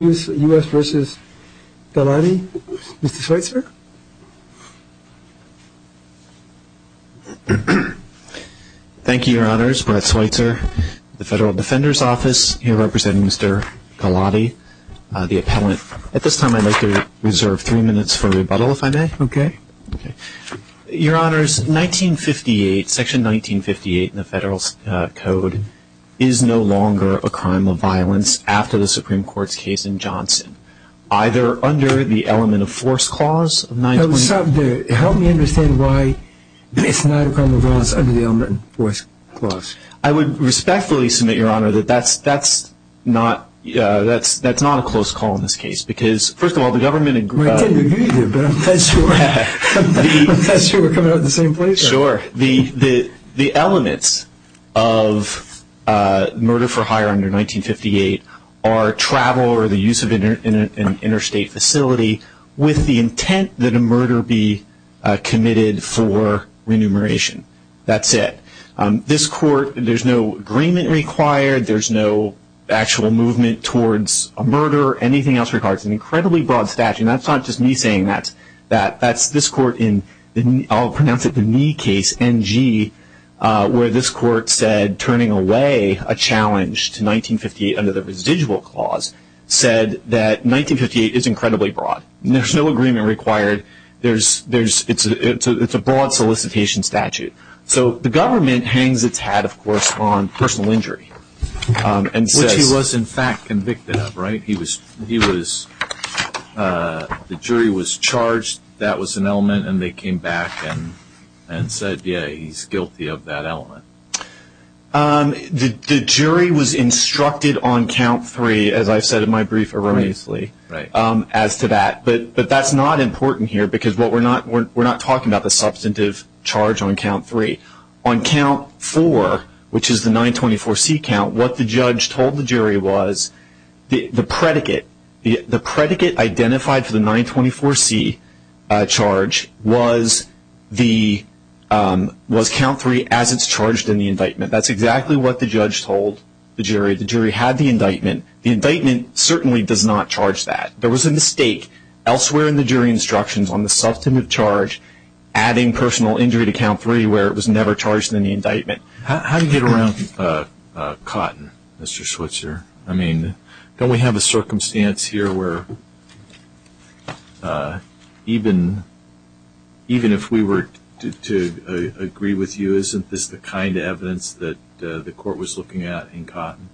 U.S. v. Galati. Mr. Schweitzer. Thank you, Your Honors. Brett Schweitzer, the Federal Defender's Office, here representing Mr. Galati, the appellant. At this time, I'd like to reserve three minutes for rebuttal, if I may. Okay. Your Honors, Section 1958 in the Federal Code is no longer a crime of violence after the Supreme Court's case in Johnson, either under the element of force clause of 920- Help me understand why it's not a crime of violence under the element of force clause. I would respectfully submit, Your Honor, that that's not a close call in this case because, first of all, the government- I can't agree with you, but I'm impressed you were coming out of the same place. Sure. The elements of murder for hire under 1958 are travel or the use of an interstate facility with the intent that a murder be committed for remuneration. That's it. This Court, there's no agreement required. There's no actual movement towards a murder or anything else. It's an incredibly broad statute, and that's not just me saying that. That's this Court in, I'll pronounce it the knee case, NG, where this Court said turning away a challenge to 1958 under the residual clause said that 1958 is incredibly broad. There's no agreement required. It's a broad solicitation statute. So the government hangs its hat, of course, on personal injury and says- the jury was charged, that was an element, and they came back and said, yeah, he's guilty of that element. The jury was instructed on count three, as I've said in my brief erroneously, as to that. But that's not important here because we're not talking about the substantive charge on count three. On count four, which is the 924C count, what the judge told the jury was the predicate, the predicate identified for the 924C charge was count three as it's charged in the indictment. That's exactly what the judge told the jury. The jury had the indictment. The indictment certainly does not charge that. There was a mistake elsewhere in the jury instructions on the substantive charge, adding personal injury to count three where it was never charged in the indictment. How do you get around Cotton, Mr. Schweitzer? I mean, don't we have a circumstance here where even if we were to agree with you, isn't this the kind of evidence that the court was looking at in Cotton?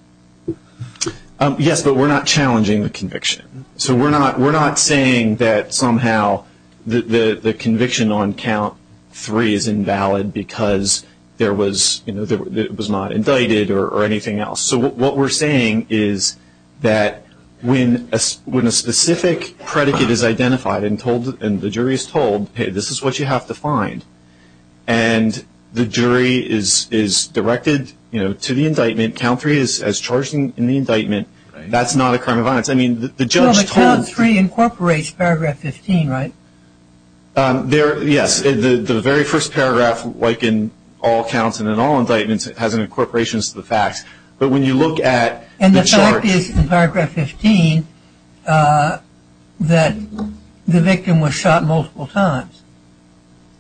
Yes, but we're not challenging the conviction. So we're not saying that somehow the conviction on count three is invalid because it was not indicted or anything else. So what we're saying is that when a specific predicate is identified and the jury is told, hey, this is what you have to find, and the jury is directed to the indictment, count three is as charged in the indictment, that's not a crime of violence. Well, but count three incorporates paragraph 15, right? Yes. The very first paragraph, like in all counts and in all indictments, has an incorporation to the facts. But when you look at the charge. And the fact is in paragraph 15 that the victim was shot multiple times.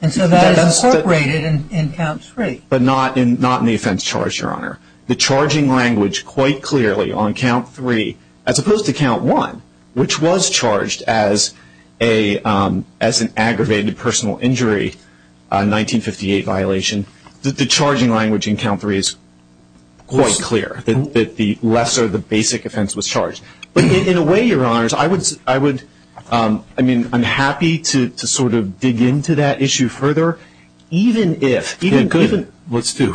And so that is incorporated in count three. But not in the offense charge, Your Honor. The charging language quite clearly on count three, as opposed to count one, which was charged as an aggravated personal injury, a 1958 violation, the charging language in count three is quite clear, that the lesser, the basic offense was charged. But in a way, Your Honors, I would, I mean, I'm happy to sort of dig into that issue further. Yeah, good. Let's do.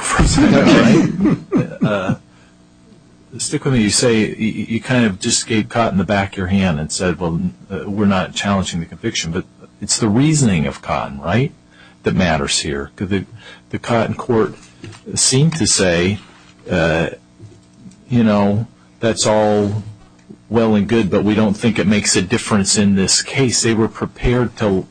Stick with me. You say, you kind of just gave Cotton the back of your hand and said, well, we're not challenging the conviction. But it's the reasoning of Cotton, right, that matters here. The Cotton court seemed to say, you know, that's all well and good, but we don't think it makes a difference in this case. They were prepared to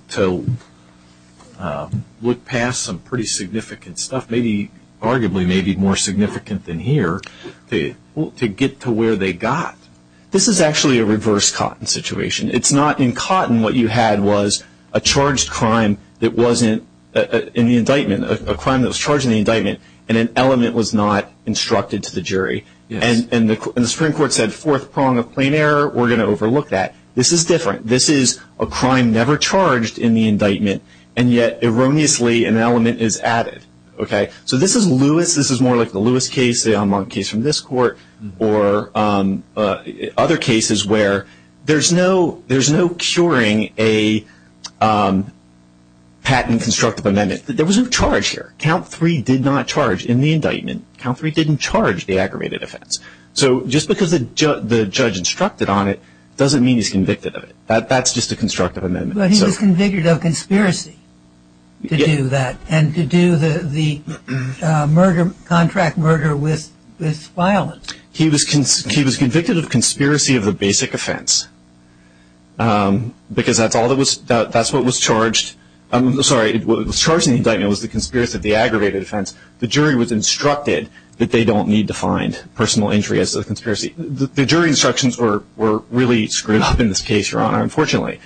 look past some pretty significant stuff, arguably maybe more significant than here, to get to where they got. This is actually a reverse Cotton situation. It's not in Cotton what you had was a charged crime that wasn't in the indictment, a crime that was charged in the indictment, and an element was not instructed to the jury. And the Supreme Court said, fourth prong of plain error, we're going to overlook that. This is different. This is a crime never charged in the indictment, and yet erroneously an element is added. Okay. So this is Lewis. This is more like the Lewis case, the case from this court, or other cases where there's no curing a patent constructive amendment. There was no charge here. Count three did not charge in the indictment. Count three didn't charge the aggravated offense. So just because the judge instructed on it doesn't mean he's convicted of it. That's just a constructive amendment. But he was convicted of conspiracy to do that and to do the contract murder with violence. He was convicted of conspiracy of the basic offense because that's what was charged. I'm sorry, what was charged in the indictment was the conspiracy of the aggravated offense. The jury was instructed that they don't need to find personal injury as a conspiracy. The jury instructions were really screwed up in this case, Your Honor, unfortunately.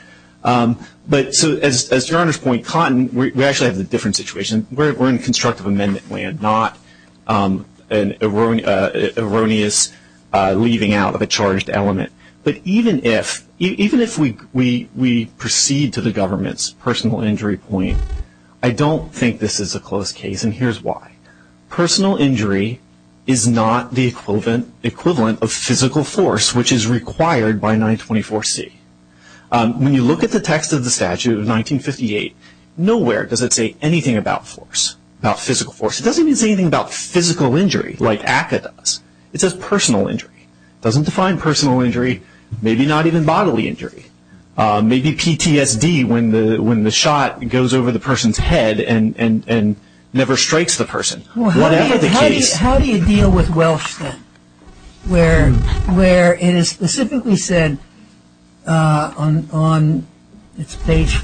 But as Your Honor's point, Cotton, we actually have a different situation. We're in constructive amendment land, not an erroneous leaving out of a charged element. But even if we proceed to the government's personal injury point, I don't think this is a close case. And here's why. Personal injury is not the equivalent of physical force, which is required by 924C. When you look at the text of the statute of 1958, nowhere does it say anything about force, about physical force. It doesn't even say anything about physical injury like ACCA does. It says personal injury. It doesn't define personal injury, maybe not even bodily injury. Maybe PTSD when the shot goes over the person's head and never strikes the person. Whatever the case. How do you deal with Welsh then? Where it is specifically said on page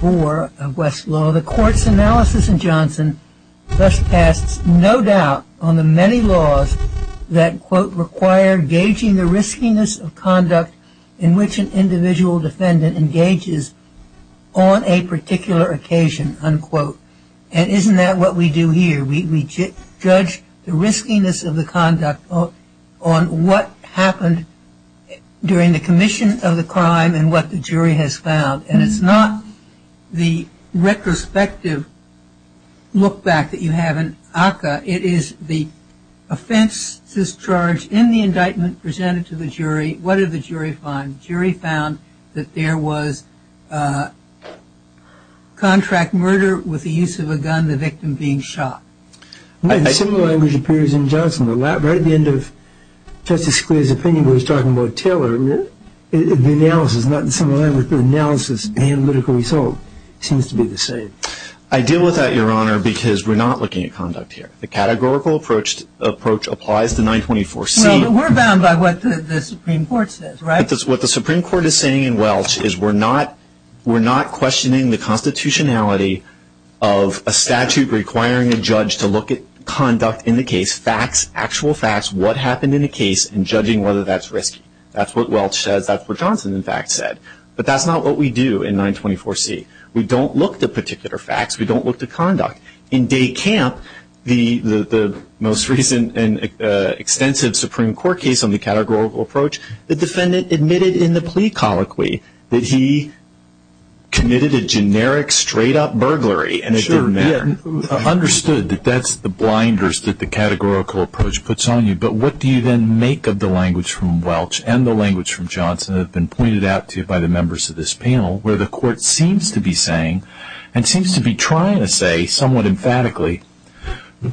four of West's law, the court's analysis in Johnson thus casts no doubt on the many laws that, quote, require gauging the riskiness of conduct in which an individual defendant engages on a particular occasion, unquote. And isn't that what we do here? We judge the riskiness of the conduct on what happened during the commission of the crime and what the jury has found. And it's not the retrospective look back that you have in ACCA. It is the offense discharge in the indictment presented to the jury. What did the jury find? The jury found that there was contract murder with the use of a gun, the victim being shot. Similar language appears in Johnson. Right at the end of Justice Scalia's opinion when he was talking about Taylor, the analysis, not the similar language, but the analysis and analytical result seems to be the same. I deal with that, Your Honor, because we're not looking at conduct here. The categorical approach applies to 924C. Well, we're bound by what the Supreme Court says, right? What the Supreme Court is saying in Welsh is we're not questioning the constitutionality of a statute requiring a judge to look at conduct in the case, facts, actual facts, what happened in the case, and judging whether that's risky. That's what Welsh says. That's what Johnson, in fact, said. But that's not what we do in 924C. We don't look to particular facts. We don't look to conduct. In De Camp, the most recent and extensive Supreme Court case on the categorical approach, the defendant admitted in the plea colloquy that he committed a generic, straight-up burglary, and it didn't matter. Understood that that's the blinders that the categorical approach puts on you. But what do you then make of the language from Welsh and the language from Johnson that have been pointed out to you by the members of this panel, where the court seems to be saying and seems to be trying to say somewhat emphatically,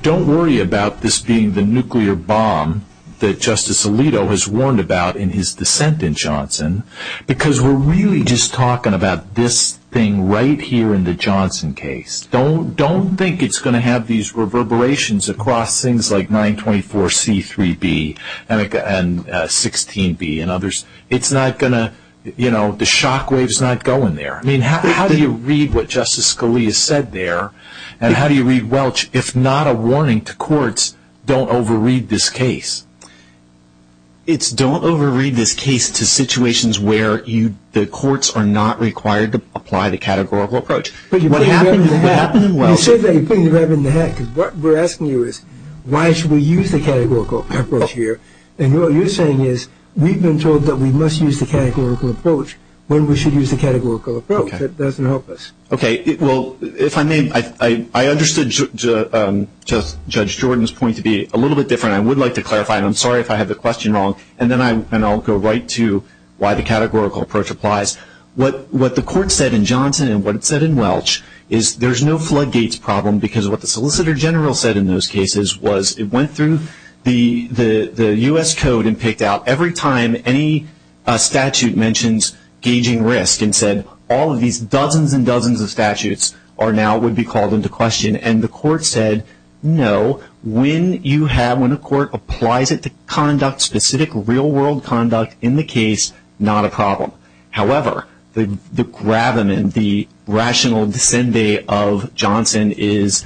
don't worry about this being the nuclear bomb that Justice Alito has warned about in his dissent in Johnson because we're really just talking about this thing right here in the Johnson case. Don't think it's going to have these reverberations across things like 924C, 3B, and 16B and others. It's not going to, you know, the shockwave's not going there. I mean, how do you read what Justice Scalia said there, and how do you read Welsh, if not a warning to courts, don't overread this case? It's don't overread this case to situations where the courts are not required to apply the categorical approach. But you're putting the rabbit in the hat. You said that you're putting the rabbit in the hat because what we're asking you is why should we use the categorical approach here, and what you're saying is we've been told that we must use the categorical approach when we should use the categorical approach. That doesn't help us. Okay. Well, if I may, I understood Judge Jordan's point to be a little bit different. I would like to clarify, and I'm sorry if I have the question wrong, and then I'll go right to why the categorical approach applies. What the court said in Johnson and what it said in Welsh is there's no floodgates problem because what the Solicitor General said in those cases was it went through the U.S. Code and picked out every time any statute mentions gauging risk and said all of these dozens and dozens of statutes are now, would be called into question, and the court said no. When you have, when a court applies it to conduct specific real-world conduct in the case, not a problem. However, the gravamen, the rational dissent of Johnson is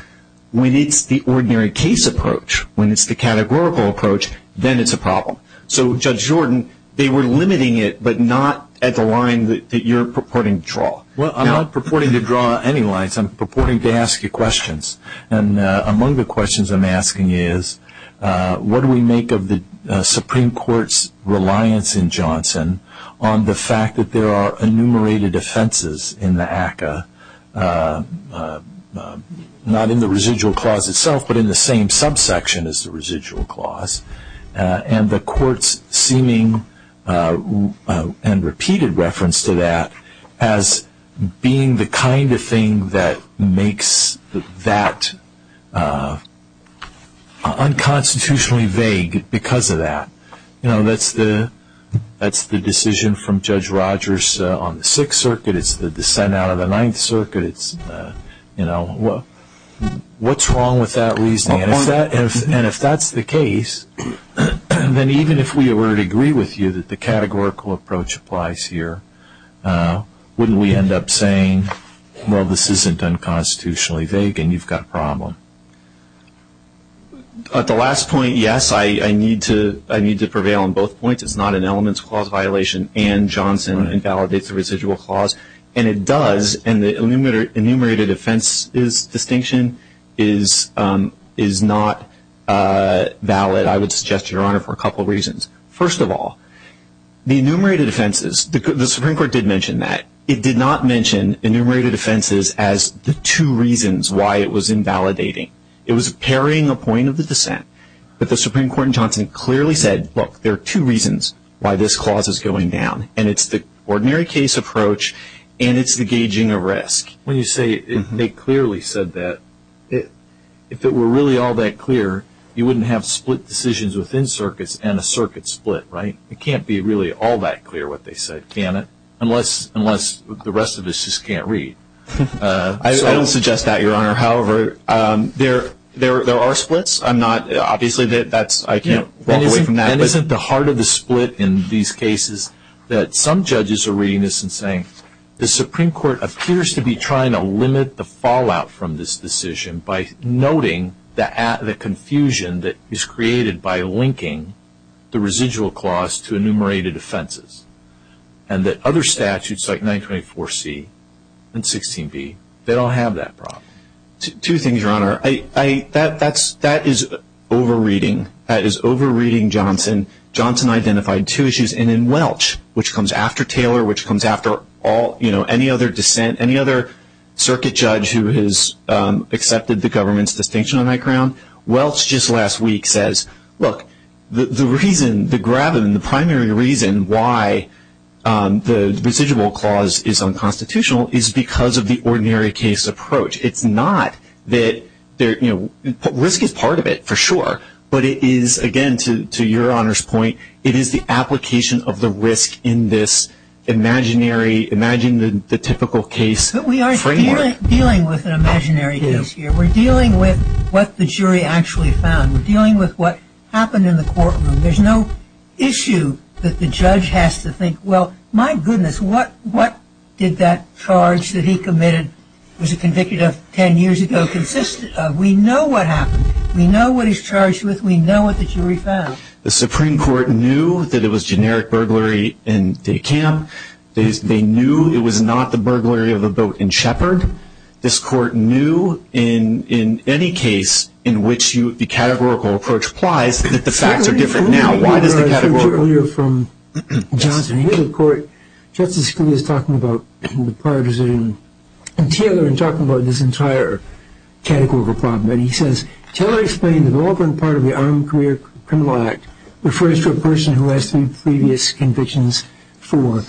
when it's the ordinary case approach, when it's the categorical approach, then it's a problem. So, Judge Jordan, they were limiting it but not at the line that you're purporting to draw. Well, I'm not purporting to draw any lines. I'm purporting to ask you questions, and among the questions I'm asking is, what do we make of the Supreme Court's reliance in Johnson on the fact that there are enumerated offenses in the ACCA, not in the residual clause itself but in the same subsection as the residual clause, and the court's seeming and repeated reference to that as being the kind of thing that makes that unconstitutionally vague because of that. You know, that's the decision from Judge Rogers on the Sixth Circuit, it's the dissent out of the Ninth Circuit, you know, what's wrong with that reasoning? And if that's the case, then even if we were to agree with you that the categorical approach applies here, wouldn't we end up saying, well, this isn't unconstitutionally vague and you've got a problem? At the last point, yes, I need to prevail on both points. It's not an elements clause violation and Johnson invalidates the residual clause, and it does, and the enumerated offenses distinction is not valid, I would suggest, Your Honor, for a couple of reasons. First of all, the enumerated offenses, the Supreme Court did mention that. It did not mention enumerated offenses as the two reasons why it was invalidating. It was parrying a point of the dissent, but the Supreme Court in Johnson clearly said, look, there are two reasons why this clause is going down, and it's the ordinary case approach and it's the gauging of risk. When you say they clearly said that, if it were really all that clear, you wouldn't have split decisions within circuits and a circuit split, right? It can't be really all that clear what they said, can it? Unless the rest of us just can't read. I don't suggest that, Your Honor. However, there are splits. Obviously, I can't walk away from that. Isn't the heart of the split in these cases that some judges are reading this and saying, the Supreme Court appears to be trying to limit the fallout from this decision by noting the confusion that is created by linking the residual clause to enumerated offenses, and that other statutes like 924C and 16B, they don't have that problem. Two things, Your Honor. That is over-reading. That is over-reading Johnson. Johnson identified two issues, and in Welch, which comes after Taylor, which comes after any other dissent, any other circuit judge who has accepted the government's distinction on that ground, Welch just last week says, look, the reason, the gravim, the primary reason why the residual clause is unconstitutional is because of the ordinary case approach. It's not that, you know, risk is part of it, for sure, but it is, again, to Your Honor's point, it is the application of the risk in this imaginary, imagine the typical case framework. But we are dealing with an imaginary case here. We're dealing with what the jury actually found. We're dealing with what happened in the courtroom. There's no issue that the judge has to think, well, my goodness, what did that charge that he committed, was it convicted of 10 years ago, consist of? We know what happened. We know what he's charged with. We know what the jury found. The Supreme Court knew that it was generic burglary in Day Camp. They knew it was not the burglary of a boat in Shepard. This court knew in any case in which the categorical approach applies that the facts are different now. Why does the categorical? Earlier from Johnson, here's a court, Justice Scalia is talking about in the prior decision, and Taylor is talking about this entire categorical problem. And he says, Taylor explained the relevant part of the Armed Career Criminal Act refers to a person who has three previous convictions, four.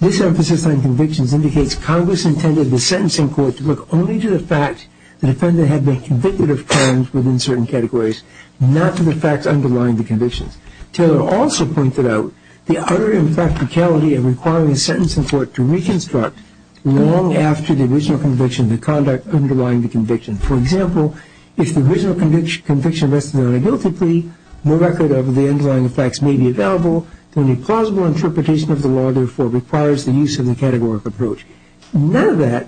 This emphasis on convictions indicates Congress intended the sentencing court to look only to the fact the defendant had been convicted of crimes within certain categories, not to the facts underlying the convictions. Taylor also pointed out the utter impracticality of requiring a sentencing court to reconstruct long after the original conviction the conduct underlying the conviction. For example, if the original conviction rested on a guilty plea, no record of the underlying facts may be available. Any plausible interpretation of the law, therefore, requires the use of the categorical approach. None of that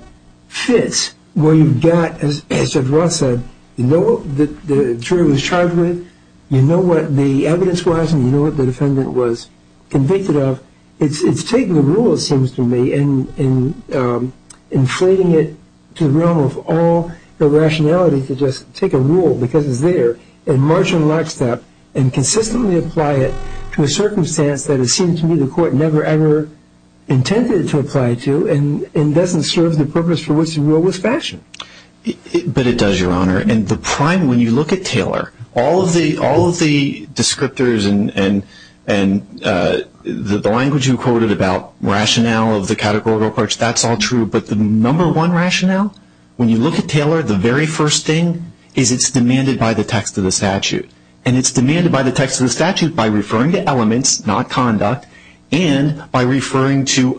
fits where you've got, as Judge Roth said, you know what the jury was charged with, you know what the evidence was, and you know what the defendant was convicted of. It's taking the rule, it seems to me, and inflating it to the realm of all the rationality to just take a rule because it's there and march in lockstep and consistently apply it to a circumstance that it seems to me the court never ever intended to apply to and doesn't serve the purpose for which the rule was fashioned. But it does, Your Honor, and the prime, when you look at Taylor, all of the descriptors and the language you quoted about rationale of the categorical approach, that's all true, but the number one rationale, when you look at Taylor, the very first thing is it's demanded by the text of the statute. And it's demanded by the text of the statute by referring to elements, not conduct, and by referring to,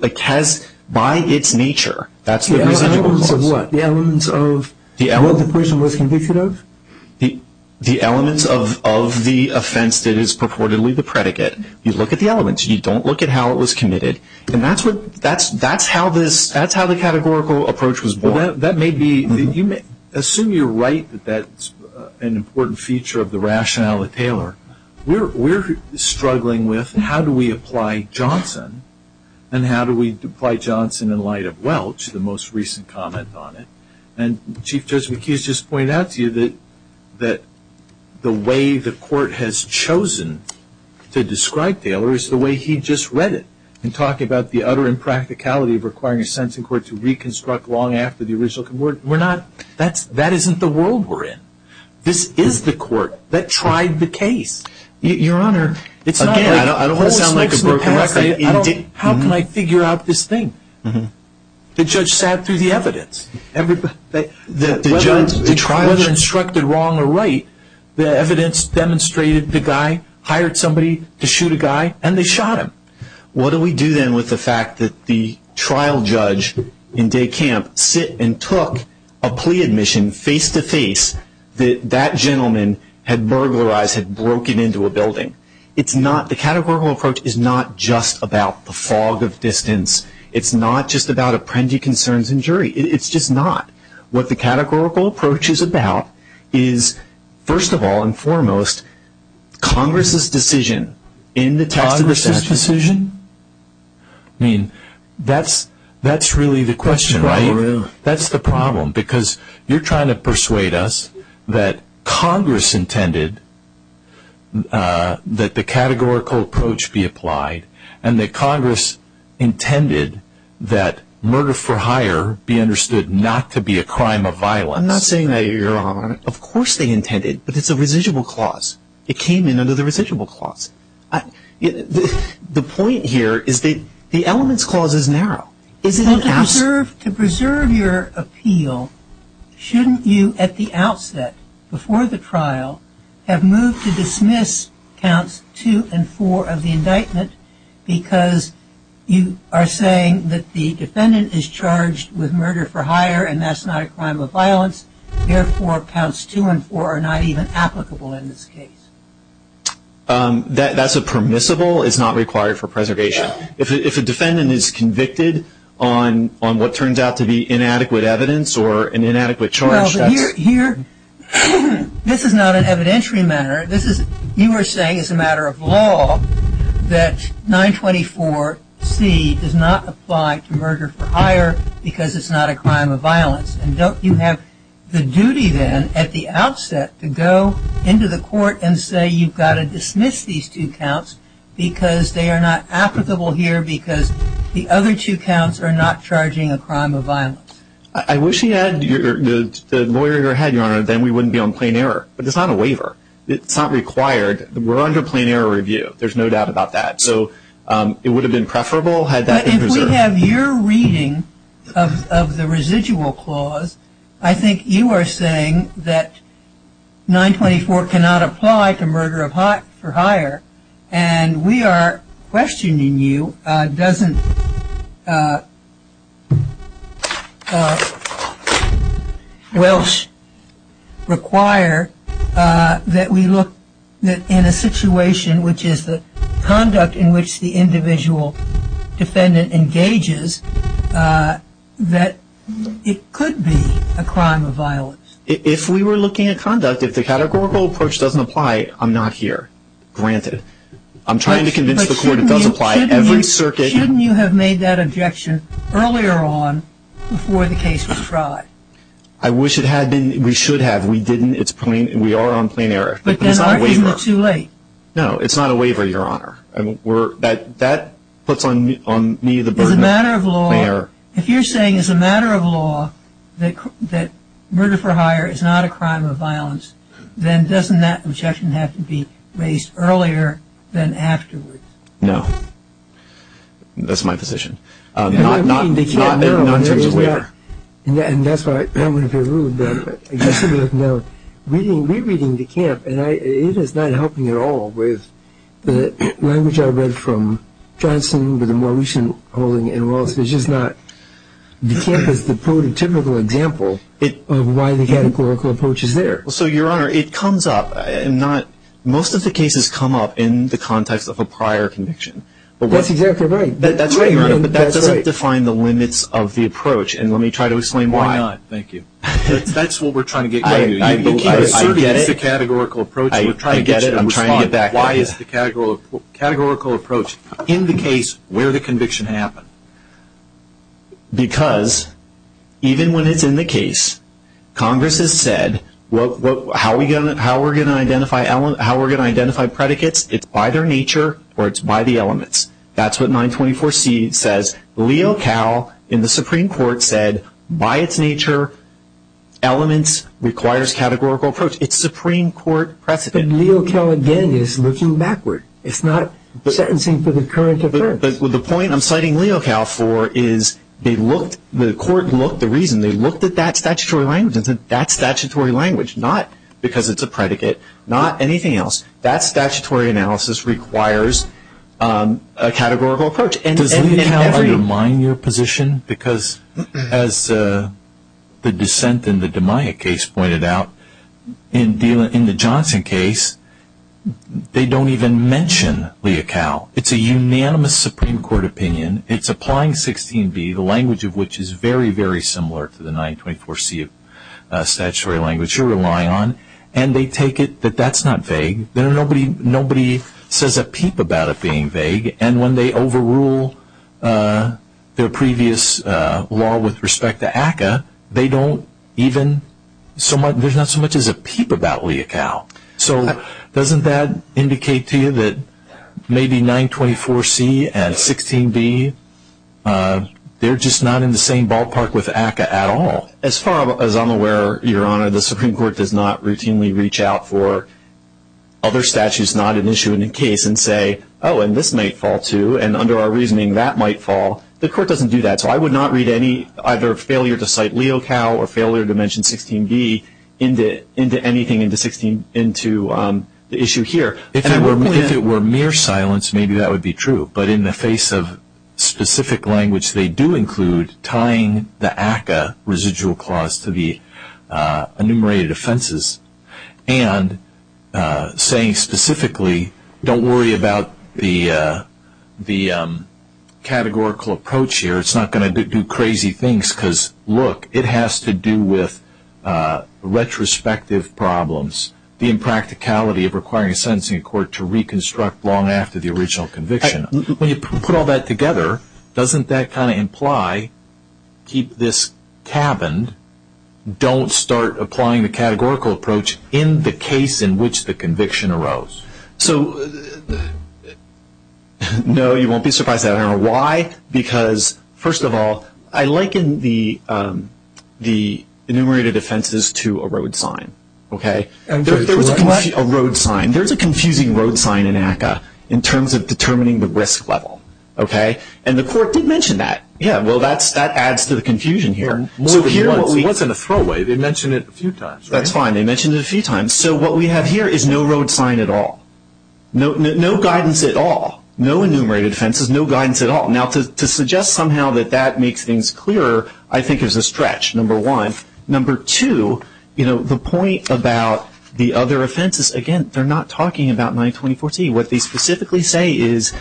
by its nature, that's the residual clause. The elements of what? The elements of what the person was convicted of? The elements of the offense that is purportedly the predicate. You look at the elements. You don't look at how it was committed. And that's how this, that's how the categorical approach was born. That may be, assume you're right that that's an important feature of the rationale of Taylor. We're struggling with how do we apply Johnson and how do we apply Johnson in light of Welch, the most recent comment on it. And Chief Judge McHugh has just pointed out to you that the way the court has chosen to describe Taylor is the way he just read it in talking about the utter impracticality of requiring a sentencing court to reconstruct long after the original. We're not, that's, that isn't the world we're in. This is the court that tried the case. Your Honor, it's not like. Again, I don't want to sound like a broken record. How can I figure out this thing? The judge sat through the evidence. Whether instructed wrong or right, the evidence demonstrated the guy hired somebody to shoot a guy and they shot him. What do we do then with the fact that the trial judge in day camp sit and took a plea admission face to face that that gentleman had burglarized, had broken into a building? It's not, the categorical approach is not just about the fog of distance. It's not just about apprendee concerns and jury. It's just not. What the categorical approach is about is, first of all and foremost, Congress's decision in the text of the statute. Congress's decision? I mean, that's really the question, right? That's the problem because you're trying to persuade us that Congress intended that the categorical approach be applied and that Congress intended that murder for hire be understood not to be a crime of violence. I'm not saying that, Your Honor. Of course they intended, but it's a residual clause. It came in under the residual clause. The point here is the elements clause is narrow. To preserve your appeal, shouldn't you at the outset, before the trial, have moved to dismiss counts two and four of the indictment because you are saying that the defendant is charged with murder for hire and that's not a crime of violence, therefore counts two and four are not even applicable in this case? That's a permissible. It's not required for preservation. If a defendant is convicted on what turns out to be inadequate evidence or an inadequate charge, that's... No, but here, this is not an evidentiary matter. You are saying as a matter of law that 924C does not apply to murder for hire because it's not a crime of violence. And don't you have the duty then at the outset to go into the court and say you've got to dismiss these two counts because they are not applicable here because the other two counts are not charging a crime of violence? I wish we had the lawyer in our head, Your Honor, then we wouldn't be on plain error. But it's not a waiver. It's not required. We're under plain error review. There's no doubt about that. So it would have been preferable had that been preserved. I have your reading of the residual clause. I think you are saying that 924 cannot apply to murder for hire. And we are questioning you. Doesn't Welsh require that we look in a situation which is the conduct in which the individual defendant engages that it could be a crime of violence? If we were looking at conduct, if the categorical approach doesn't apply, I'm not here. Granted. I'm trying to convince the court it does apply. Shouldn't you have made that objection earlier on before the case was tried? I wish it had been. We should have. We didn't. We are on plain error. But it's not a waiver. No, it's not a waiver, Your Honor. That puts on me the burden of plain error. If you're saying as a matter of law that murder for hire is not a crime of violence, then doesn't that objection have to be raised earlier than afterwards? No. That's my position. Not in terms of waiver. And that's why I'm going to be rude. No. Rereading DeCamp, and it is not helping at all with the language I read from Johnson with the more recent holding in Wallace, which is not DeCamp is the prototypical example of why the categorical approach is there. So, Your Honor, it comes up. Most of the cases come up in the context of a prior conviction. That's exactly right. That's right, Your Honor. But that doesn't define the limits of the approach. And let me try to explain why. Why not? Thank you. That's what we're trying to get to. You can't assert it as the categorical approach. I get it. I'm trying to get back at you. Why is the categorical approach in the case where the conviction happened? Because even when it's in the case, Congress has said how we're going to identify predicates, it's by their nature or it's by the elements. That's what 924C says. LEOCAL in the Supreme Court said by its nature, elements, requires categorical approach. It's Supreme Court precedent. But LEOCAL again is looking backward. It's not sentencing for the current offense. The point I'm citing LEOCAL for is they looked, the court looked, the reason they looked at that statutory language and said that's statutory language, not because it's a predicate, not anything else. That statutory analysis requires a categorical approach. Does LEOCAL undermine your position? Because as the dissent in the Damiac case pointed out, in the Johnson case, they don't even mention LEOCAL. It's a unanimous Supreme Court opinion. It's applying 16B, the language of which is very, very similar to the 924C statutory language you're relying on. And they take it that that's not vague. Nobody says a peep about it being vague. And when they overrule their previous law with respect to ACCA, there's not so much as a peep about LEOCAL. So doesn't that indicate to you that maybe 924C and 16B, they're just not in the same ballpark with ACCA at all? As far as I'm aware, Your Honor, the Supreme Court does not routinely reach out for other statutes not an issue in the case and say, oh, and this might fall too, and under our reasoning that might fall. The court doesn't do that. So I would not read any, either failure to cite LEOCAL or failure to mention 16B into anything into the issue here. If it were mere silence, maybe that would be true. But in the face of specific language, they do include tying the ACCA residual clause to the enumerated offenses and saying specifically, don't worry about the categorical approach here. It's not going to do crazy things because, look, it has to do with retrospective problems, the impracticality of requiring a sentencing court to reconstruct long after the original conviction. When you put all that together, doesn't that kind of imply, keep this cabined, don't start applying the categorical approach in the case in which the conviction arose? So, no, you won't be surprised. I don't know why because, first of all, I liken the enumerated offenses to a road sign. There's a confusing road sign in ACCA in terms of determining the risk level. And the court did mention that. Yeah, well, that adds to the confusion here. It wasn't a throwaway. They mentioned it a few times. That's fine. They mentioned it a few times. So what we have here is no road sign at all, no guidance at all, no enumerated offenses, no guidance at all. Now, to suggest somehow that that makes things clearer, I think is a stretch, number one. Number two, you know, the point about the other offenses, again, they're not talking about 92014. What they specifically say is,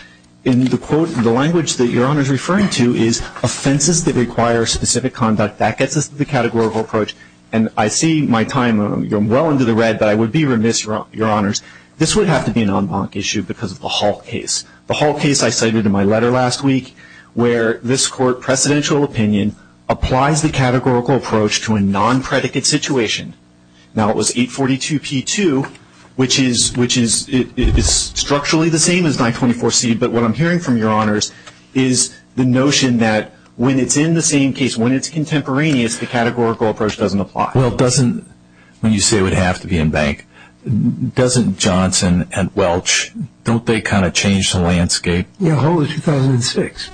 in the language that Your Honor is referring to, is offenses that require specific conduct, that gets us to the categorical approach. And I see my time, you're well into the red, but I would be remiss, Your Honors, this would have to be an en banc issue because of the Hall case. The Hall case I cited in my letter last week where this court, applies the categorical approach to a non-predicate situation. Now, it was 842P2, which is structurally the same as 924C, but what I'm hearing from Your Honors is the notion that when it's in the same case, when it's contemporaneous, the categorical approach doesn't apply. Well, it doesn't when you say it would have to be en banc. Doesn't Johnson and Welch, don't they kind of change the landscape? Yeah, Hall was 2006.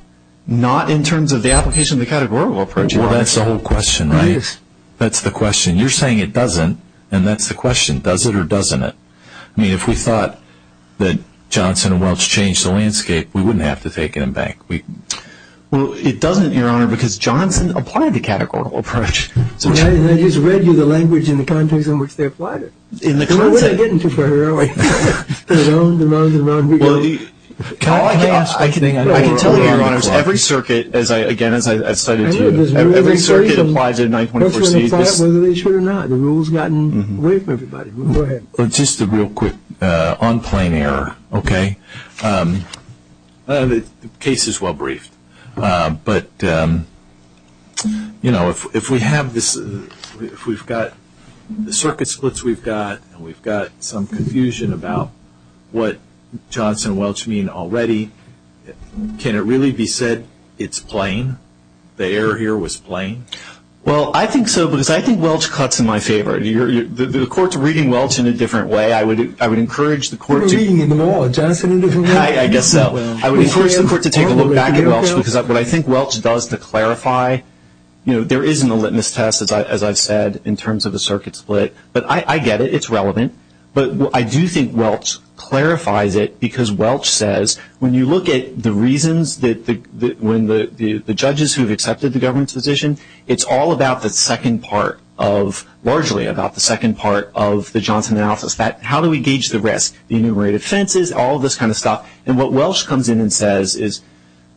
Not in terms of the application of the categorical approach. Well, that's the whole question, right? It is. That's the question. You're saying it doesn't, and that's the question, does it or doesn't it? I mean, if we thought that Johnson and Welch changed the landscape, we wouldn't have to take it en banc. Well, it doesn't, Your Honor, because Johnson applied the categorical approach. I just read you the language in the context in which they applied it. In the context. What am I getting into for her, are we? Around and around and around. I can tell you, Your Honors, every circuit, again, as I cited to you, every circuit applies a 924C. Whether they should or not, the rule's gotten away from everybody. Go ahead. Just a real quick on plane error, okay? The case is well briefed. But, you know, if we have this, if we've got the circuit splits we've got and we've got some confusion about what Johnson and Welch mean already, can it really be said it's plane? The error here was plane? Well, I think so, because I think Welch cuts in my favor. The Court's reading Welch in a different way. I would encourage the Court to. We're reading them all, Johnson in a different way. I guess so. I would encourage the Court to take a look back at Welch, because what I think Welch does to clarify, you know, there is no litmus test, as I've said, in terms of a circuit split. But I get it. It's relevant. But I do think Welch clarifies it, because Welch says, when you look at the reasons when the judges who've accepted the government's position, it's all about the second part of, largely about the second part of the Johnson analysis. How do we gauge the risk? The enumerated offenses, all this kind of stuff. And what Welch comes in and says is,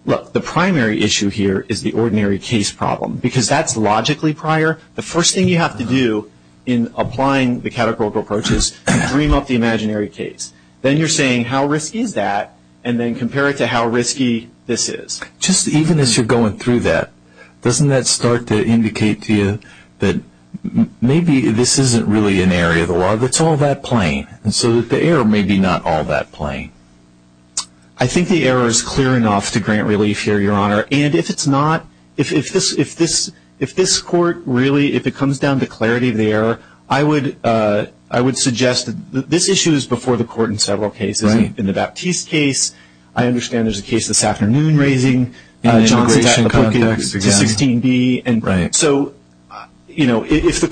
look, the primary issue here is the ordinary case problem, because that's logically prior. The first thing you have to do in applying the categorical approach is dream up the imaginary case. Then you're saying, how risky is that? And then compare it to how risky this is. Just even as you're going through that, doesn't that start to indicate to you that maybe this isn't really an area of the law. It's all that plain. And so the error may be not all that plain. I think the error is clear enough to grant relief here, Your Honor. And if it's not, if this court really, if it comes down to clarity of the error, I would suggest that this issue is before the court in several cases. In the Baptiste case, I understand there's a case this afternoon raising Johnson to 16B. So, you know, if the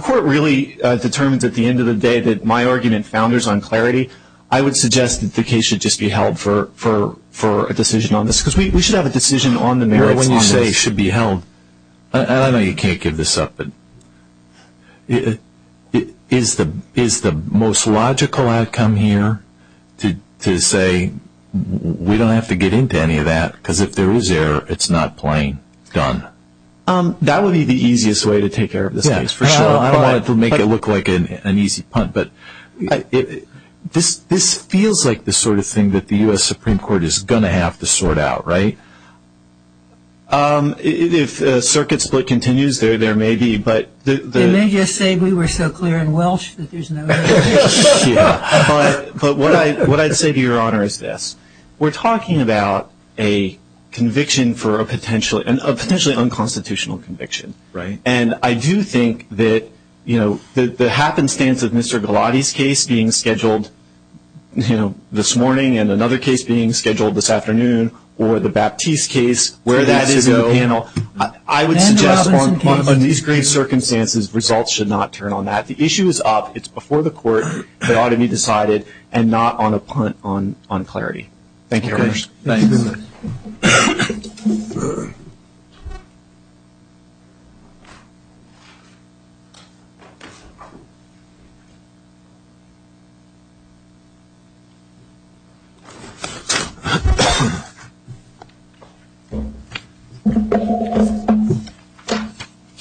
court really determines at the end of the day that my argument founders on clarity, I would suggest that the case should just be held for a decision on this. Because we should have a decision on the merits on this. When you say it should be held, and I know you can't give this up, but is the most logical outcome here to say we don't have to get into any of that? Because if there is error, it's not plain. Done. That would be the easiest way to take care of this case, for sure. I don't want to make it look like an easy punt. But this feels like the sort of thing that the U.S. Supreme Court is going to have to sort out, right? If the circuit split continues, there may be. They may just say we were so clear in Welsh that there's no error. But what I'd say to Your Honor is this. We're talking about a conviction for a potentially unconstitutional conviction, right? And I do think that the happenstance of Mr. Galati's case being scheduled this morning and another case being scheduled this afternoon, or the Baptiste case, where that is in the panel, I would suggest on these grave circumstances, results should not turn on that. The issue is up. It's before the Court. It ought to be decided and not on a punt on clarity. Thank you, Your Honors. Thanks.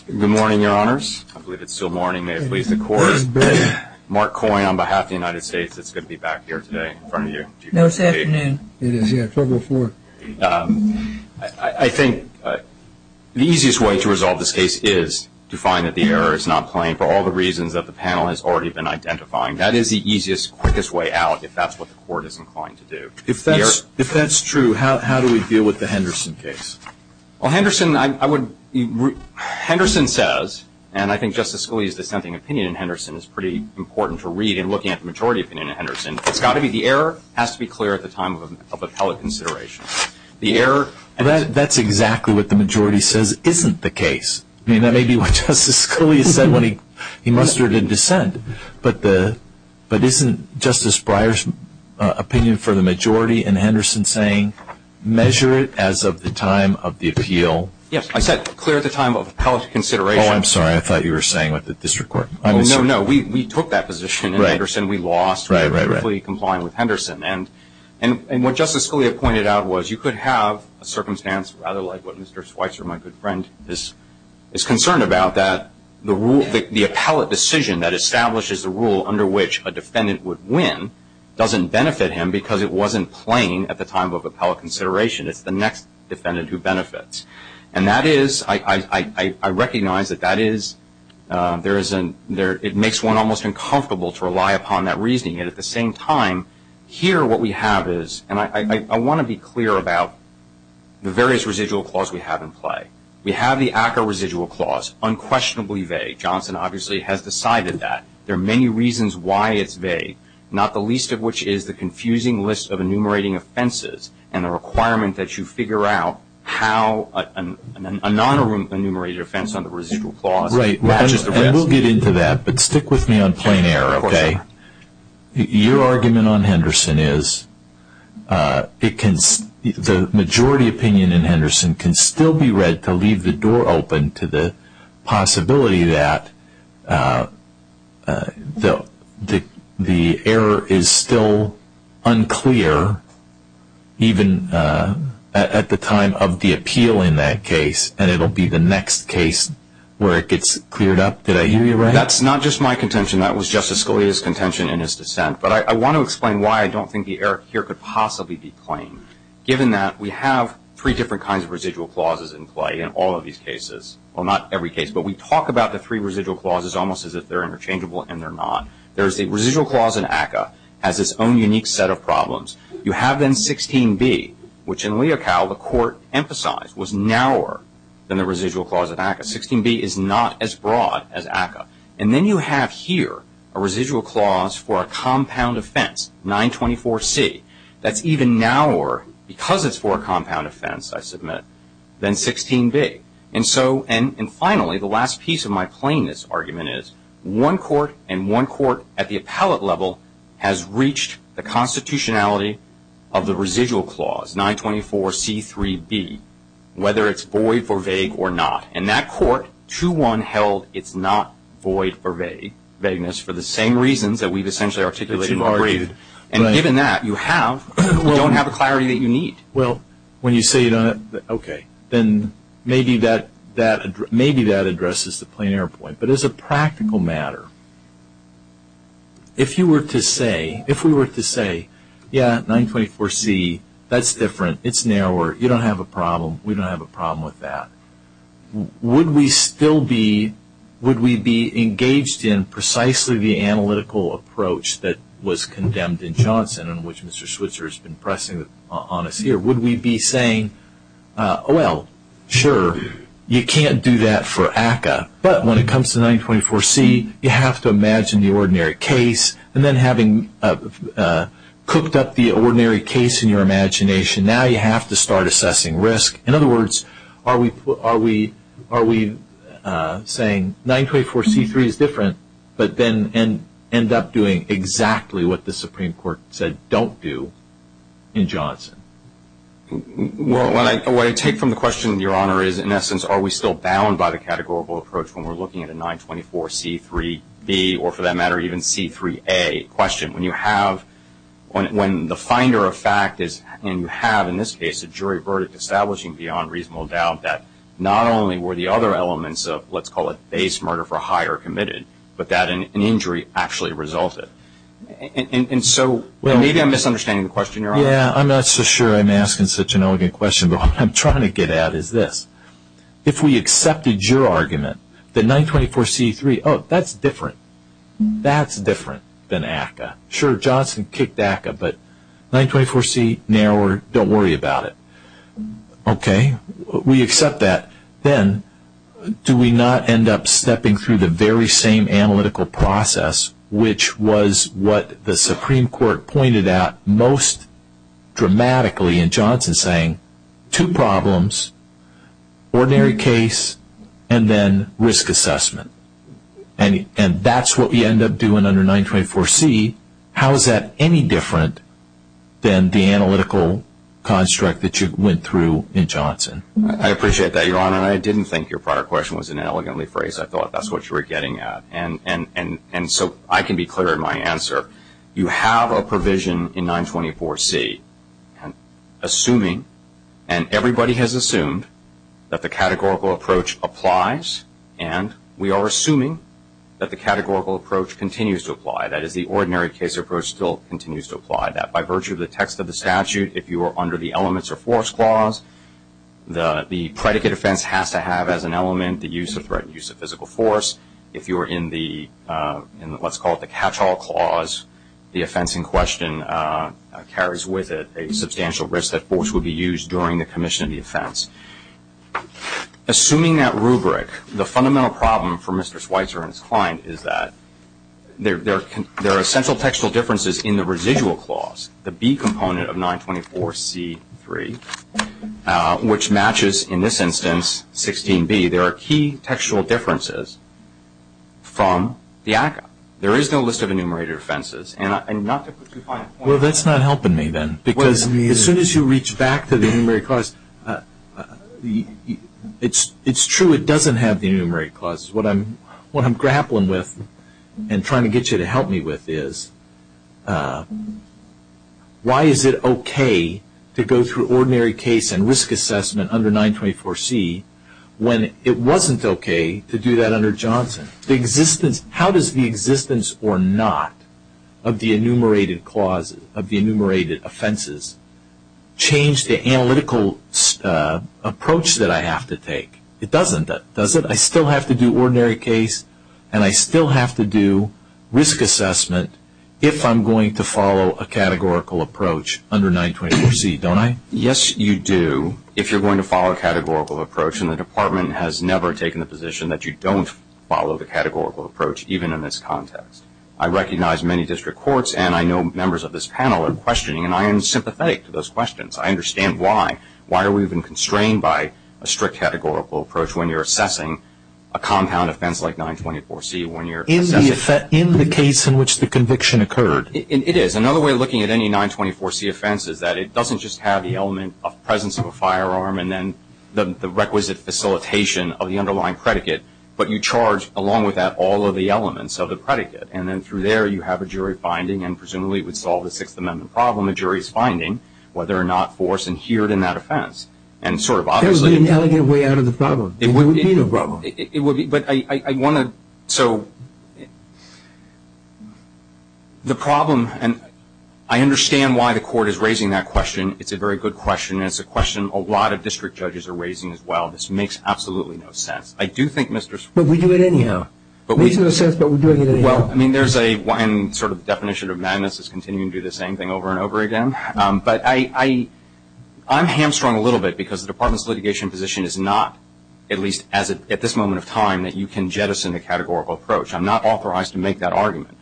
Good morning, Your Honors. I believe it's still morning. May it please the Court. Mark Coyne on behalf of the United States. It's good to be back here today in front of you. No, it's afternoon. It is, yeah. I think the easiest way to resolve this case is to find that the error is not plain for all the reasons that the panel has already been identifying. That is the easiest, quickest way out if that's what the Court is inclined to do. If that's true, how do we deal with the Henderson case? Well, Henderson says, and I think Justice Scalia's dissenting opinion in Henderson is pretty important to read in looking at the majority opinion in Henderson. The error has to be clear at the time of appellate consideration. That's exactly what the majority says isn't the case. I mean, that may be what Justice Scalia said when he mustered in dissent, but isn't Justice Breyer's opinion for the majority in Henderson saying, measure it as of the time of the appeal? Yes, I said clear at the time of appellate consideration. Oh, I'm sorry. I thought you were saying with the district court. No, no. We took that position in Henderson. We lost. We're completely compliant with Henderson. And what Justice Scalia pointed out was you could have a circumstance rather like what Mr. Schweitzer, my good friend, is concerned about, that the appellate decision that establishes the rule under which a defendant would win doesn't benefit him because it wasn't plain at the time of appellate consideration. It's the next defendant who benefits. And that is, I recognize that that is, it makes one almost uncomfortable to rely upon that reasoning. And at the same time, here what we have is, and I want to be clear about the various residual clause we have in play. We have the ACCA residual clause, unquestionably vague. Johnson obviously has decided that. There are many reasons why it's vague, not the least of which is the confusing list of enumerating offenses and the requirement that you figure out how a non-enumerated offense under residual clause matches the rest. Right. And we'll get into that. But stick with me on plain error, okay? Your argument on Henderson is the majority opinion in Henderson can still be read to leave the door open to the possibility that the error is still unclear, even at the time of the appeal in that case, and it will be the next case where it gets cleared up. Did I hear you right? That's not just my contention. That was Justice Scalia's contention in his dissent. But I want to explain why I don't think the error here could possibly be plain, given that we have three different kinds of residual clauses in play in all of these cases. Well, not every case, but we talk about the three residual clauses almost as if they're interchangeable and they're not. There's the residual clause in ACCA has its own unique set of problems. You have then 16b, which in Leocal the Court emphasized was narrower than the residual clause in ACCA. 16b is not as broad as ACCA. And then you have here a residual clause for a compound offense, 924C. That's even narrower because it's for a compound offense, I submit, than 16b. And finally, the last piece of my plainness argument is one court and one court at the appellate level has reached the constitutionality of the residual clause, 924C3b, whether it's void for vague or not. In that court, 2-1 held it's not void for vagueness for the same reasons that we've essentially articulated in the brief. And given that, you don't have the clarity that you need. Well, when you say that, okay, then maybe that addresses the plain error point. But as a practical matter, if you were to say, if we were to say, yeah, 924C, that's different. It's narrower. You don't have a problem. We don't have a problem with that. Would we still be engaged in precisely the analytical approach that was condemned in Johnson and which Mr. Switzer has been pressing on us here? Would we be saying, well, sure, you can't do that for ACCA. But when it comes to 924C, you have to imagine the ordinary case. And then having cooked up the ordinary case in your imagination, now you have to start assessing risk. In other words, are we saying 924C3 is different but then end up doing exactly what the Supreme Court said don't do in Johnson? Well, what I take from the question, Your Honor, is, in essence, are we still bound by the categorical approach when we're looking at a 924C3B or, for that matter, even C3A question? When you have, when the finder of fact is, and you have in this case a jury verdict establishing beyond reasonable doubt that not only were the other elements of, let's call it, base murder for hire committed, but that an injury actually resulted. And so maybe I'm misunderstanding the question, Your Honor. Yeah, I'm not so sure I'm asking such an elegant question, but what I'm trying to get at is this. If we accepted your argument that 924C3, oh, that's different. That's different than ACCA. Sure, Johnson kicked ACCA, but 924C, narrower, don't worry about it. Okay, we accept that. Then do we not end up stepping through the very same analytical process, which was what the Supreme Court pointed out most dramatically in Johnson, saying two problems, ordinary case, and then risk assessment. And that's what we end up doing under 924C. How is that any different than the analytical construct that you went through in Johnson? I appreciate that, Your Honor, and I didn't think your prior question was an elegantly phrased. I thought that's what you were getting at. And so I can be clear in my answer. You have a provision in 924C, and everybody has assumed that the categorical approach applies, and we are assuming that the categorical approach continues to apply. That is, the ordinary case approach still continues to apply. By virtue of the text of the statute, if you are under the elements or force clause, the predicate offense has to have as an element the use of threat and use of physical force. If you are in the, let's call it the catch-all clause, the offense in question carries with it a substantial risk that force would be used during the commission of the offense. Assuming that rubric, the fundamental problem for Mr. Schweitzer and his client is that there are essential textual differences in the residual clause, the B component of 924C.3, which matches, in this instance, 16B. There are key textual differences from the ACCA. There is no list of enumerated offenses. And not to put too fine a point on that. Well, that's not helping me then. Because as soon as you reach back to the enumerated clause, it's true it doesn't have the enumerated clause. What I'm grappling with and trying to get you to help me with is why is it okay to go through ordinary case and risk assessment under 924C when it wasn't okay to do that under Johnson? How does the existence or not of the enumerated clauses, of the enumerated offenses, change the analytical approach that I have to take? It doesn't, does it? I still have to do ordinary case and I still have to do risk assessment if I'm going to follow a categorical approach under 924C, don't I? Yes, you do if you're going to follow a categorical approach. And the Department has never taken the position that you don't follow the categorical approach, even in this context. I recognize many district courts and I know members of this panel are questioning, and I am sympathetic to those questions. I understand why. Why are we even constrained by a strict categorical approach when you're assessing a compound offense like 924C? In the case in which the conviction occurred. It is. Because another way of looking at any 924C offense is that it doesn't just have the element of presence of a firearm and then the requisite facilitation of the underlying predicate, but you charge along with that all of the elements of the predicate. And then through there you have a jury finding, and presumably it would solve the Sixth Amendment problem, a jury's finding, whether or not force adhered in that offense. And sort of obviously- There would be an elegant way out of the problem. It wouldn't be the problem. I understand why the court is raising that question. It's a very good question, and it's a question a lot of district judges are raising as well. This makes absolutely no sense. But we do it anyhow. It makes no sense, but we're doing it anyhow. There's one sort of definition of madness is continuing to do the same thing over and over again. But I'm hamstrung a little bit because the Department's litigation position is not, at least at this moment of time, that you can jettison a categorical approach. I'm not authorized to make that argument.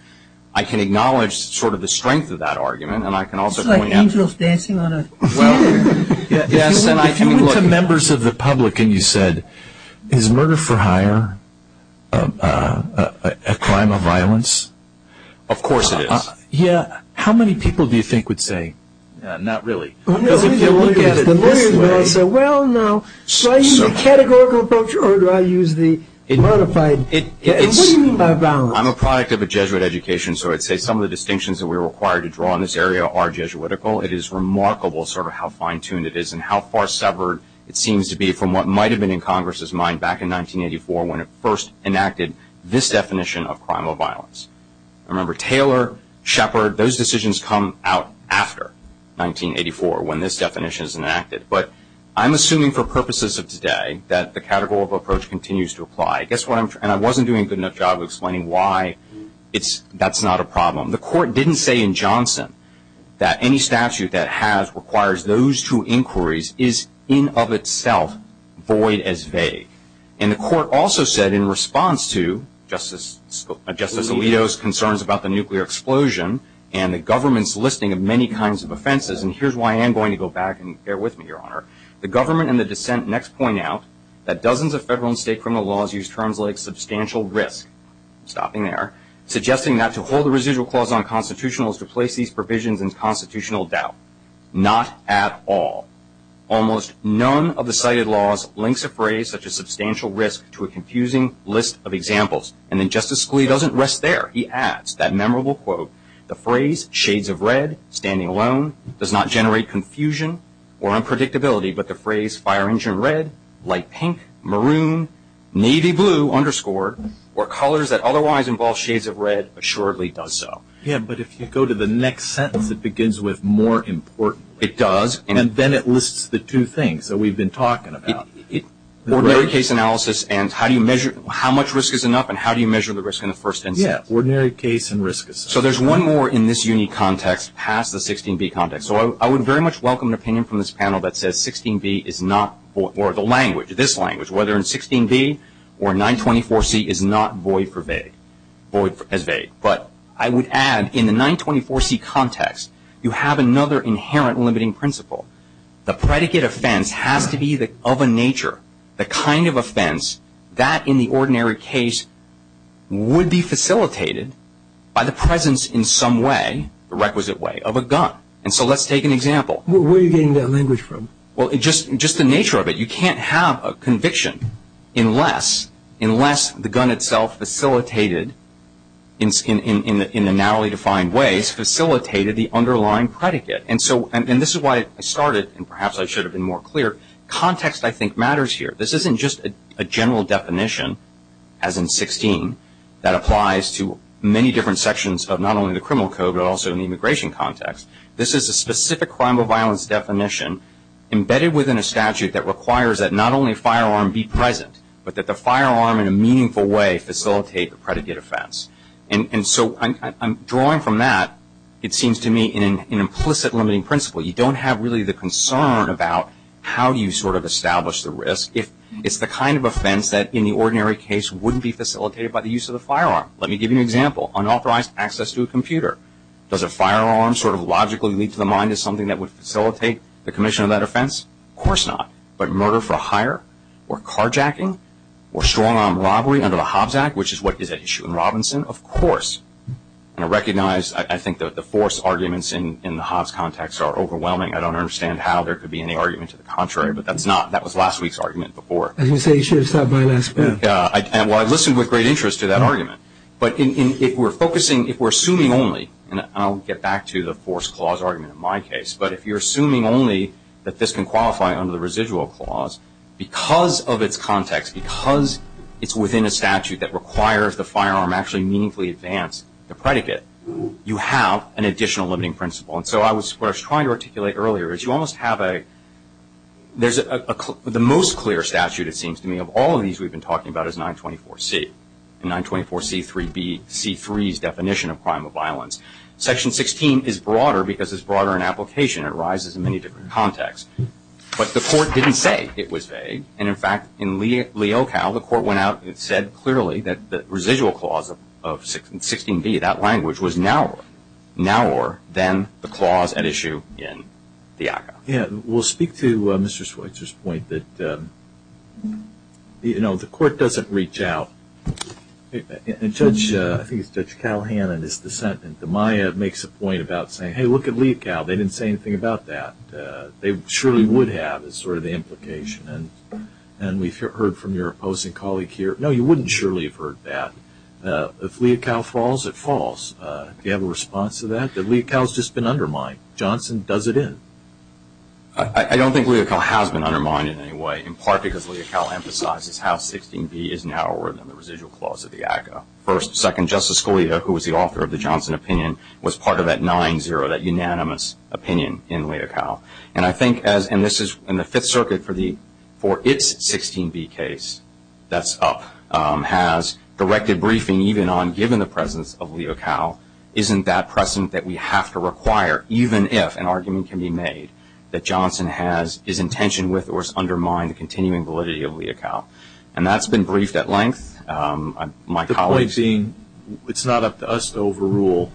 I can acknowledge sort of the strength of that argument, and I can also point out- It's like angels dancing on a theater. If you went to members of the public and you said, is murder for hire a crime of violence? Of course it is. Yeah. How many people do you think would say- Not really. Because if you look at it this way- Well, no. Do I use a categorical approach, or do I use the modified- It's- What do you mean by violence? I'm a product of a Jesuit education, so I'd say some of the distinctions that we're required to draw in this area are Jesuitical. It is remarkable sort of how fine-tuned it is and how far severed it seems to be from what might have been in Congress's mind back in 1984 when it first enacted this definition of crime of violence. Remember, Taylor, Shepard, those decisions come out after 1984 when this definition is enacted. But I'm assuming for purposes of today that the categorical approach continues to apply. And I wasn't doing a good enough job of explaining why that's not a problem. The court didn't say in Johnson that any statute that requires those two inquiries is in of itself void as vague. And the court also said in response to Justice Alito's concerns about the nuclear explosion and the government's listing of many kinds of offenses- and here's why I am going to go back and bear with me, Your Honor- the government and the dissent next point out that dozens of federal and state criminal laws use terms like substantial risk- stopping there- suggesting that to hold a residual clause on constitutionals to place these provisions in constitutional doubt. Not at all. Almost none of the cited laws links a phrase such as substantial risk to a confusing list of examples. And then Justice Scalia doesn't rest there. He adds that memorable quote, the phrase shades of red, standing alone, does not generate confusion or unpredictability, but the phrase fire engine red, light pink, maroon, navy blue, underscored, or colors that otherwise involve shades of red assuredly does so. Yeah, but if you go to the next sentence it begins with more important. It does. And then it lists the two things that we've been talking about. Ordinary case analysis and how do you measure- how much risk is enough and how do you measure the risk in the first instance. Yeah, ordinary case and risk assessment. So there's one more in this unique context past the 16B context. So I would very much welcome an opinion from this panel that says 16B is not void- or the language, this language, whether it's 16B or 924C is not void as vague. But I would add in the 924C context you have another inherent limiting principle. The predicate offense has to be of a nature, the kind of offense that in the ordinary case would be facilitated by the presence in some way, the requisite way, of a gun. And so let's take an example. Where are you getting that language from? Well, just the nature of it. You can't have a conviction unless the gun itself facilitated, in the narrowly defined ways, facilitated the underlying predicate. And this is why I started and perhaps I should have been more clear. Context, I think, matters here. This isn't just a general definition, as in 16, that applies to many different sections of not only the criminal code but also in the immigration context. This is a specific crime of violence definition embedded within a statute that requires that not only a firearm be present but that the firearm in a meaningful way facilitate the predicate offense. And so I'm drawing from that, it seems to me, an implicit limiting principle. You don't have really the concern about how you sort of establish the risk. It's the kind of offense that in the ordinary case wouldn't be facilitated by the use of the firearm. Let me give you an example. Unauthorized access to a computer. Does a firearm sort of logically lead to the mind as something that would facilitate the commission of that offense? Of course not. But murder for hire or carjacking or strong-arm robbery under the Hobbs Act, which is what is at issue in Robinson, of course. And I recognize, I think, that the force arguments in the Hobbs context are overwhelming. I don't understand how there could be any argument to the contrary, but that's not. That was last week's argument before. As you say, you should have stopped by last week. Well, I listened with great interest to that argument. But if we're focusing, if we're assuming only, and I'll get back to the force clause argument in my case, but if you're assuming only that this can qualify under the residual clause, because of its context, because it's within a statute that requires the firearm actually meaningfully advance the predicate, you have an additional limiting principle. And so what I was trying to articulate earlier is you almost have a, there's the most clear statute, it seems to me, of all of these we've been talking about is 924C. And 924C3B, C3's definition of crime of violence. Section 16 is broader because it's broader in application. It arises in many different contexts. But the court didn't say it was vague. And, in fact, in Leocal, the court went out and said clearly that the residual clause of 16B, that language, was narrower, narrower than the clause at issue in the ACCA. Yeah. We'll speak to Mr. Schweitzer's point that, you know, the court doesn't reach out. And Judge, I think it's Judge Calhoun in his dissent in the Maya makes a point about saying, hey, look at Leocal. They didn't say anything about that. They surely would have is sort of the implication. And we've heard from your opposing colleague here, no, you wouldn't surely have heard that. If Leocal falls, it falls. Do you have a response to that? Leocal's just been undermined. Johnson does it in. I don't think Leocal has been undermined in any way, in part because Leocal emphasizes how 16B is narrower than the residual clause of the ACCA. First, second, Justice Scalia, who was the author of the Johnson opinion, was part of that 9-0, that unanimous opinion in Leocal. And I think, and this is in the Fifth Circuit for its 16B case, that's up, has directed briefing even on, given the presence of Leocal, isn't that precedent that we have to require, even if an argument can be made that Johnson has, is in tension with or has undermined the continuing validity of Leocal. And that's been briefed at length. The point being, it's not up to us to overrule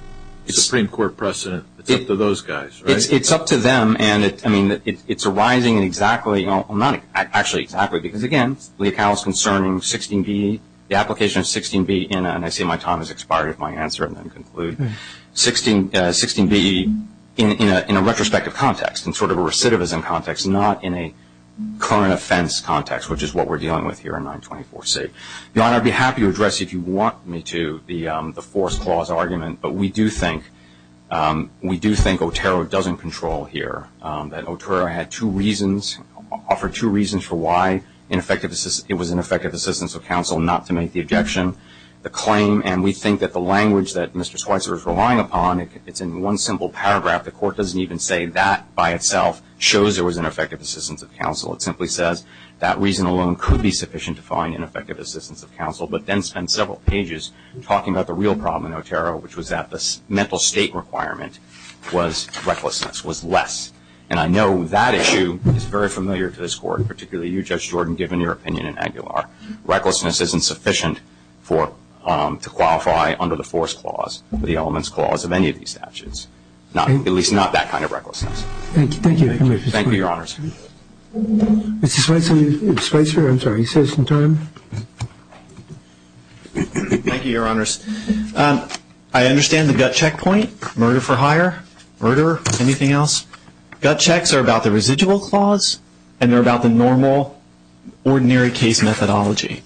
the Supreme Court precedent. It's up to those guys, right? It's up to them. And it's arising in exactly, actually exactly, because, again, Leocal is concerning 16B, the application of 16B in, and I see my time has expired if I answer and then conclude, 16B in a retrospective context, in sort of a recidivism context, not in a current offense context, which is what we're dealing with here in 924C. Your Honor, I'd be happy to address you if you want me to the forced clause argument, but we do think Otero doesn't control here, that Otero had two reasons, offered two reasons for why it was an effective assistance of counsel not to make the objection. The claim, and we think that the language that Mr. Schweitzer is relying upon, it's in one simple paragraph. The court doesn't even say that by itself shows there was an effective assistance of counsel. It simply says that reason alone could be sufficient to find an effective assistance of counsel, but then spends several pages talking about the real problem in Otero, which was that the mental state requirement was recklessness, was less. And I know that issue is very familiar to this court, particularly you, Judge Jordan, given your opinion in Aguilar. Recklessness isn't sufficient to qualify under the forced clause, the elements clause of any of these statutes, at least not that kind of recklessness. Thank you. Thank you, Your Honors. Mr. Schweitzer, I'm sorry, you still have some time. Thank you, Your Honors. I understand the gut checkpoint, murder for hire, murder, anything else? Gut checks are about the residual clause, and they're about the normal, ordinary case methodology.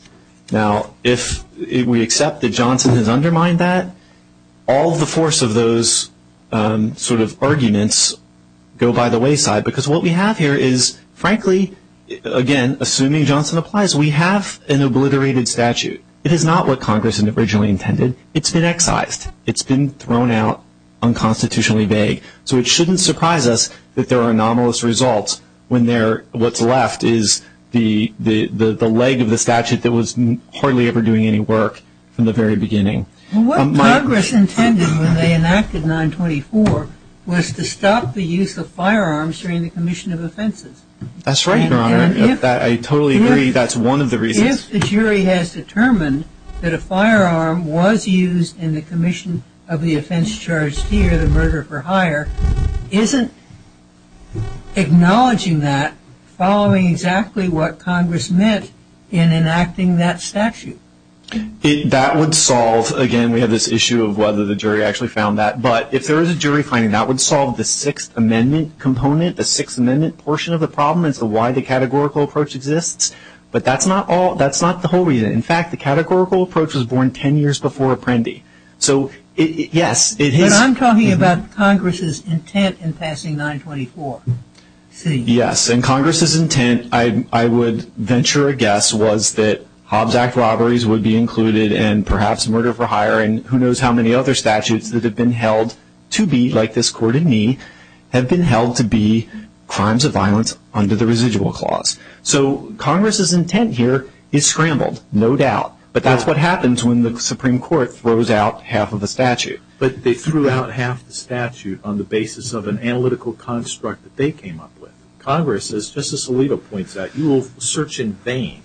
Now, if we accept that Johnson has undermined that, all the force of those sort of arguments go by the wayside, because what we have here is, frankly, again, assuming Johnson applies, we have an obliterated statute. It is not what Congress originally intended. It's been excised. It's been thrown out unconstitutionally vague. So it shouldn't surprise us that there are anomalous results when what's left is the leg of the statute that was hardly ever doing any work from the very beginning. What Congress intended when they enacted 924 was to stop the use of firearms during the commission of offenses. That's right, Your Honor. I totally agree that's one of the reasons. If the jury has determined that a firearm was used in the commission of the offense charged here, the murder for hire, isn't acknowledging that following exactly what Congress meant in enacting that statute? That would solve, again, we have this issue of whether the jury actually found that. But if there is a jury finding, that would solve the Sixth Amendment component, the Sixth Amendment portion of the problem as to why the categorical approach exists. But that's not the whole reason. In fact, the categorical approach was born ten years before Apprendi. So, yes, it is. But I'm talking about Congress's intent in passing 924C. Yes, and Congress's intent, I would venture a guess, was that Hobbs Act robberies would be included and perhaps murder for hire and who knows how many other statutes that have been held to be, like this court in me, have been held to be crimes of violence under the residual clause. So Congress's intent here is scrambled, no doubt. But that's what happens when the Supreme Court throws out half of a statute. But they threw out half the statute on the basis of an analytical construct that they came up with. Congress, as Justice Alito points out, you will search in vain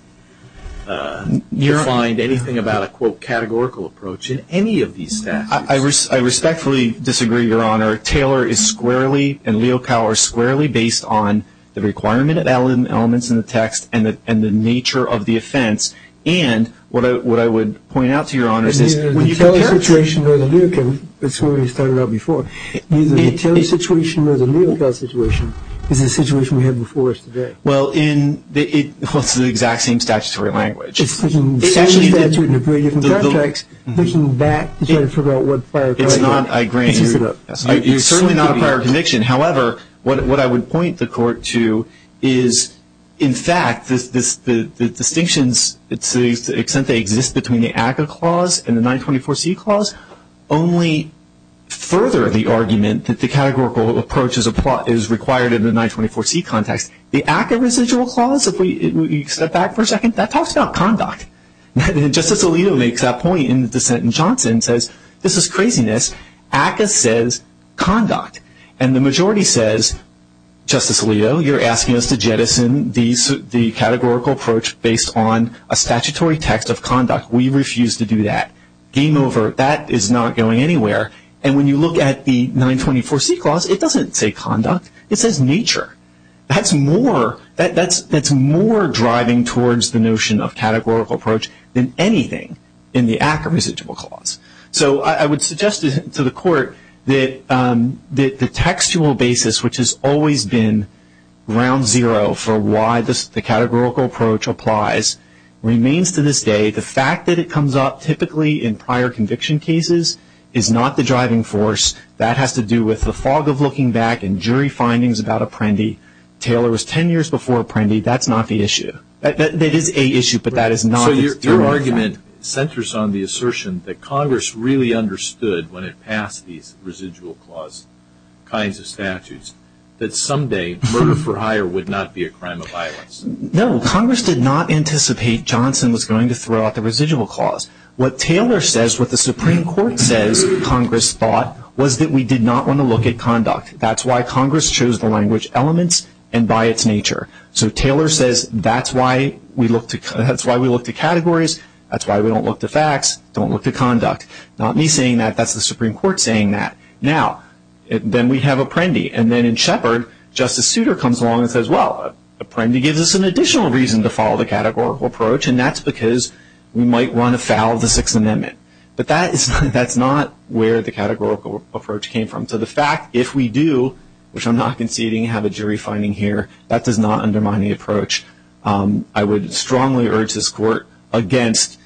to find anything about a, quote, categorical approach in any of these statutes. I respectfully disagree, Your Honor. Taylor is squarely and Leocow are squarely based on the requirement of elements in the text and the nature of the offense. And what I would point out to Your Honor is this. The Taylor situation or the Leocow, it's what we started out before. The Taylor situation or the Leocow situation is the situation we have before us today. Well, it's the exact same statutory language. It's the same statute in a very different context. It's not, I agree. It's certainly not a prior conviction. However, what I would point the Court to is, in fact, the distinctions, to the extent they exist between the ACCA clause and the 924C clause, only further the argument that the categorical approach is required in the 924C context. The ACCA residual clause, if we step back for a second, that talks about conduct. Justice Alito makes that point in the dissent in Johnson, says, this is craziness. ACCA says conduct. And the majority says, Justice Alito, you're asking us to jettison the categorical approach based on a statutory text of conduct. We refuse to do that. Game over. That is not going anywhere. And when you look at the 924C clause, it doesn't say conduct. It says nature. That's more driving towards the notion of categorical approach than anything in the ACCA residual clause. So I would suggest to the Court that the textual basis, which has always been ground zero for why the categorical approach applies, remains to this day. The fact that it comes up typically in prior conviction cases is not the driving force. That has to do with the fog of looking back and jury findings about Apprendi. Taylor was ten years before Apprendi. That's not the issue. That is a issue, but that is not the driving force. So your argument centers on the assertion that Congress really understood when it passed these residual clause kinds of statutes that someday murder for hire would not be a crime of violence. No. Congress did not anticipate Johnson was going to throw out the residual clause. What Taylor says, what the Supreme Court says Congress thought, was that we did not want to look at conduct. That's why Congress chose the language elements and by its nature. So Taylor says that's why we look to categories. That's why we don't look to facts. Don't look to conduct. Not me saying that. That's the Supreme Court saying that. Now, then we have Apprendi. And then in Shepard, Justice Souter comes along and says, well, Apprendi gives us an additional reason to follow the categorical approach, and that's because we might run afoul of the Sixth Amendment. But that's not where the categorical approach came from. So the fact, if we do, which I'm not conceding, have a jury finding here, that does not undermine the approach. I would strongly urge this court against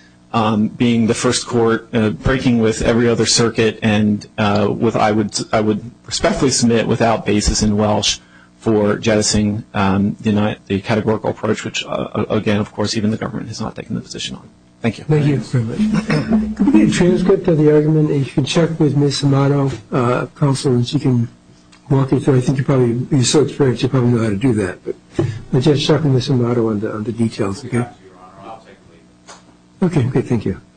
being the first court breaking with every other circuit and I would respectfully submit without basis in Welsh for jettisoning the categorical approach, which, again, of course, even the government has not taken the position on. Thank you. Thank you very much. Can we get a transcript of the argument? If you can check with Ms. Amato, counsel, and she can walk you through it. I think you're probably so experienced you probably know how to do that. But just check with Ms. Amato on the details, okay? I'll get back to you, Your Honor. I'll take the lead. Okay, good.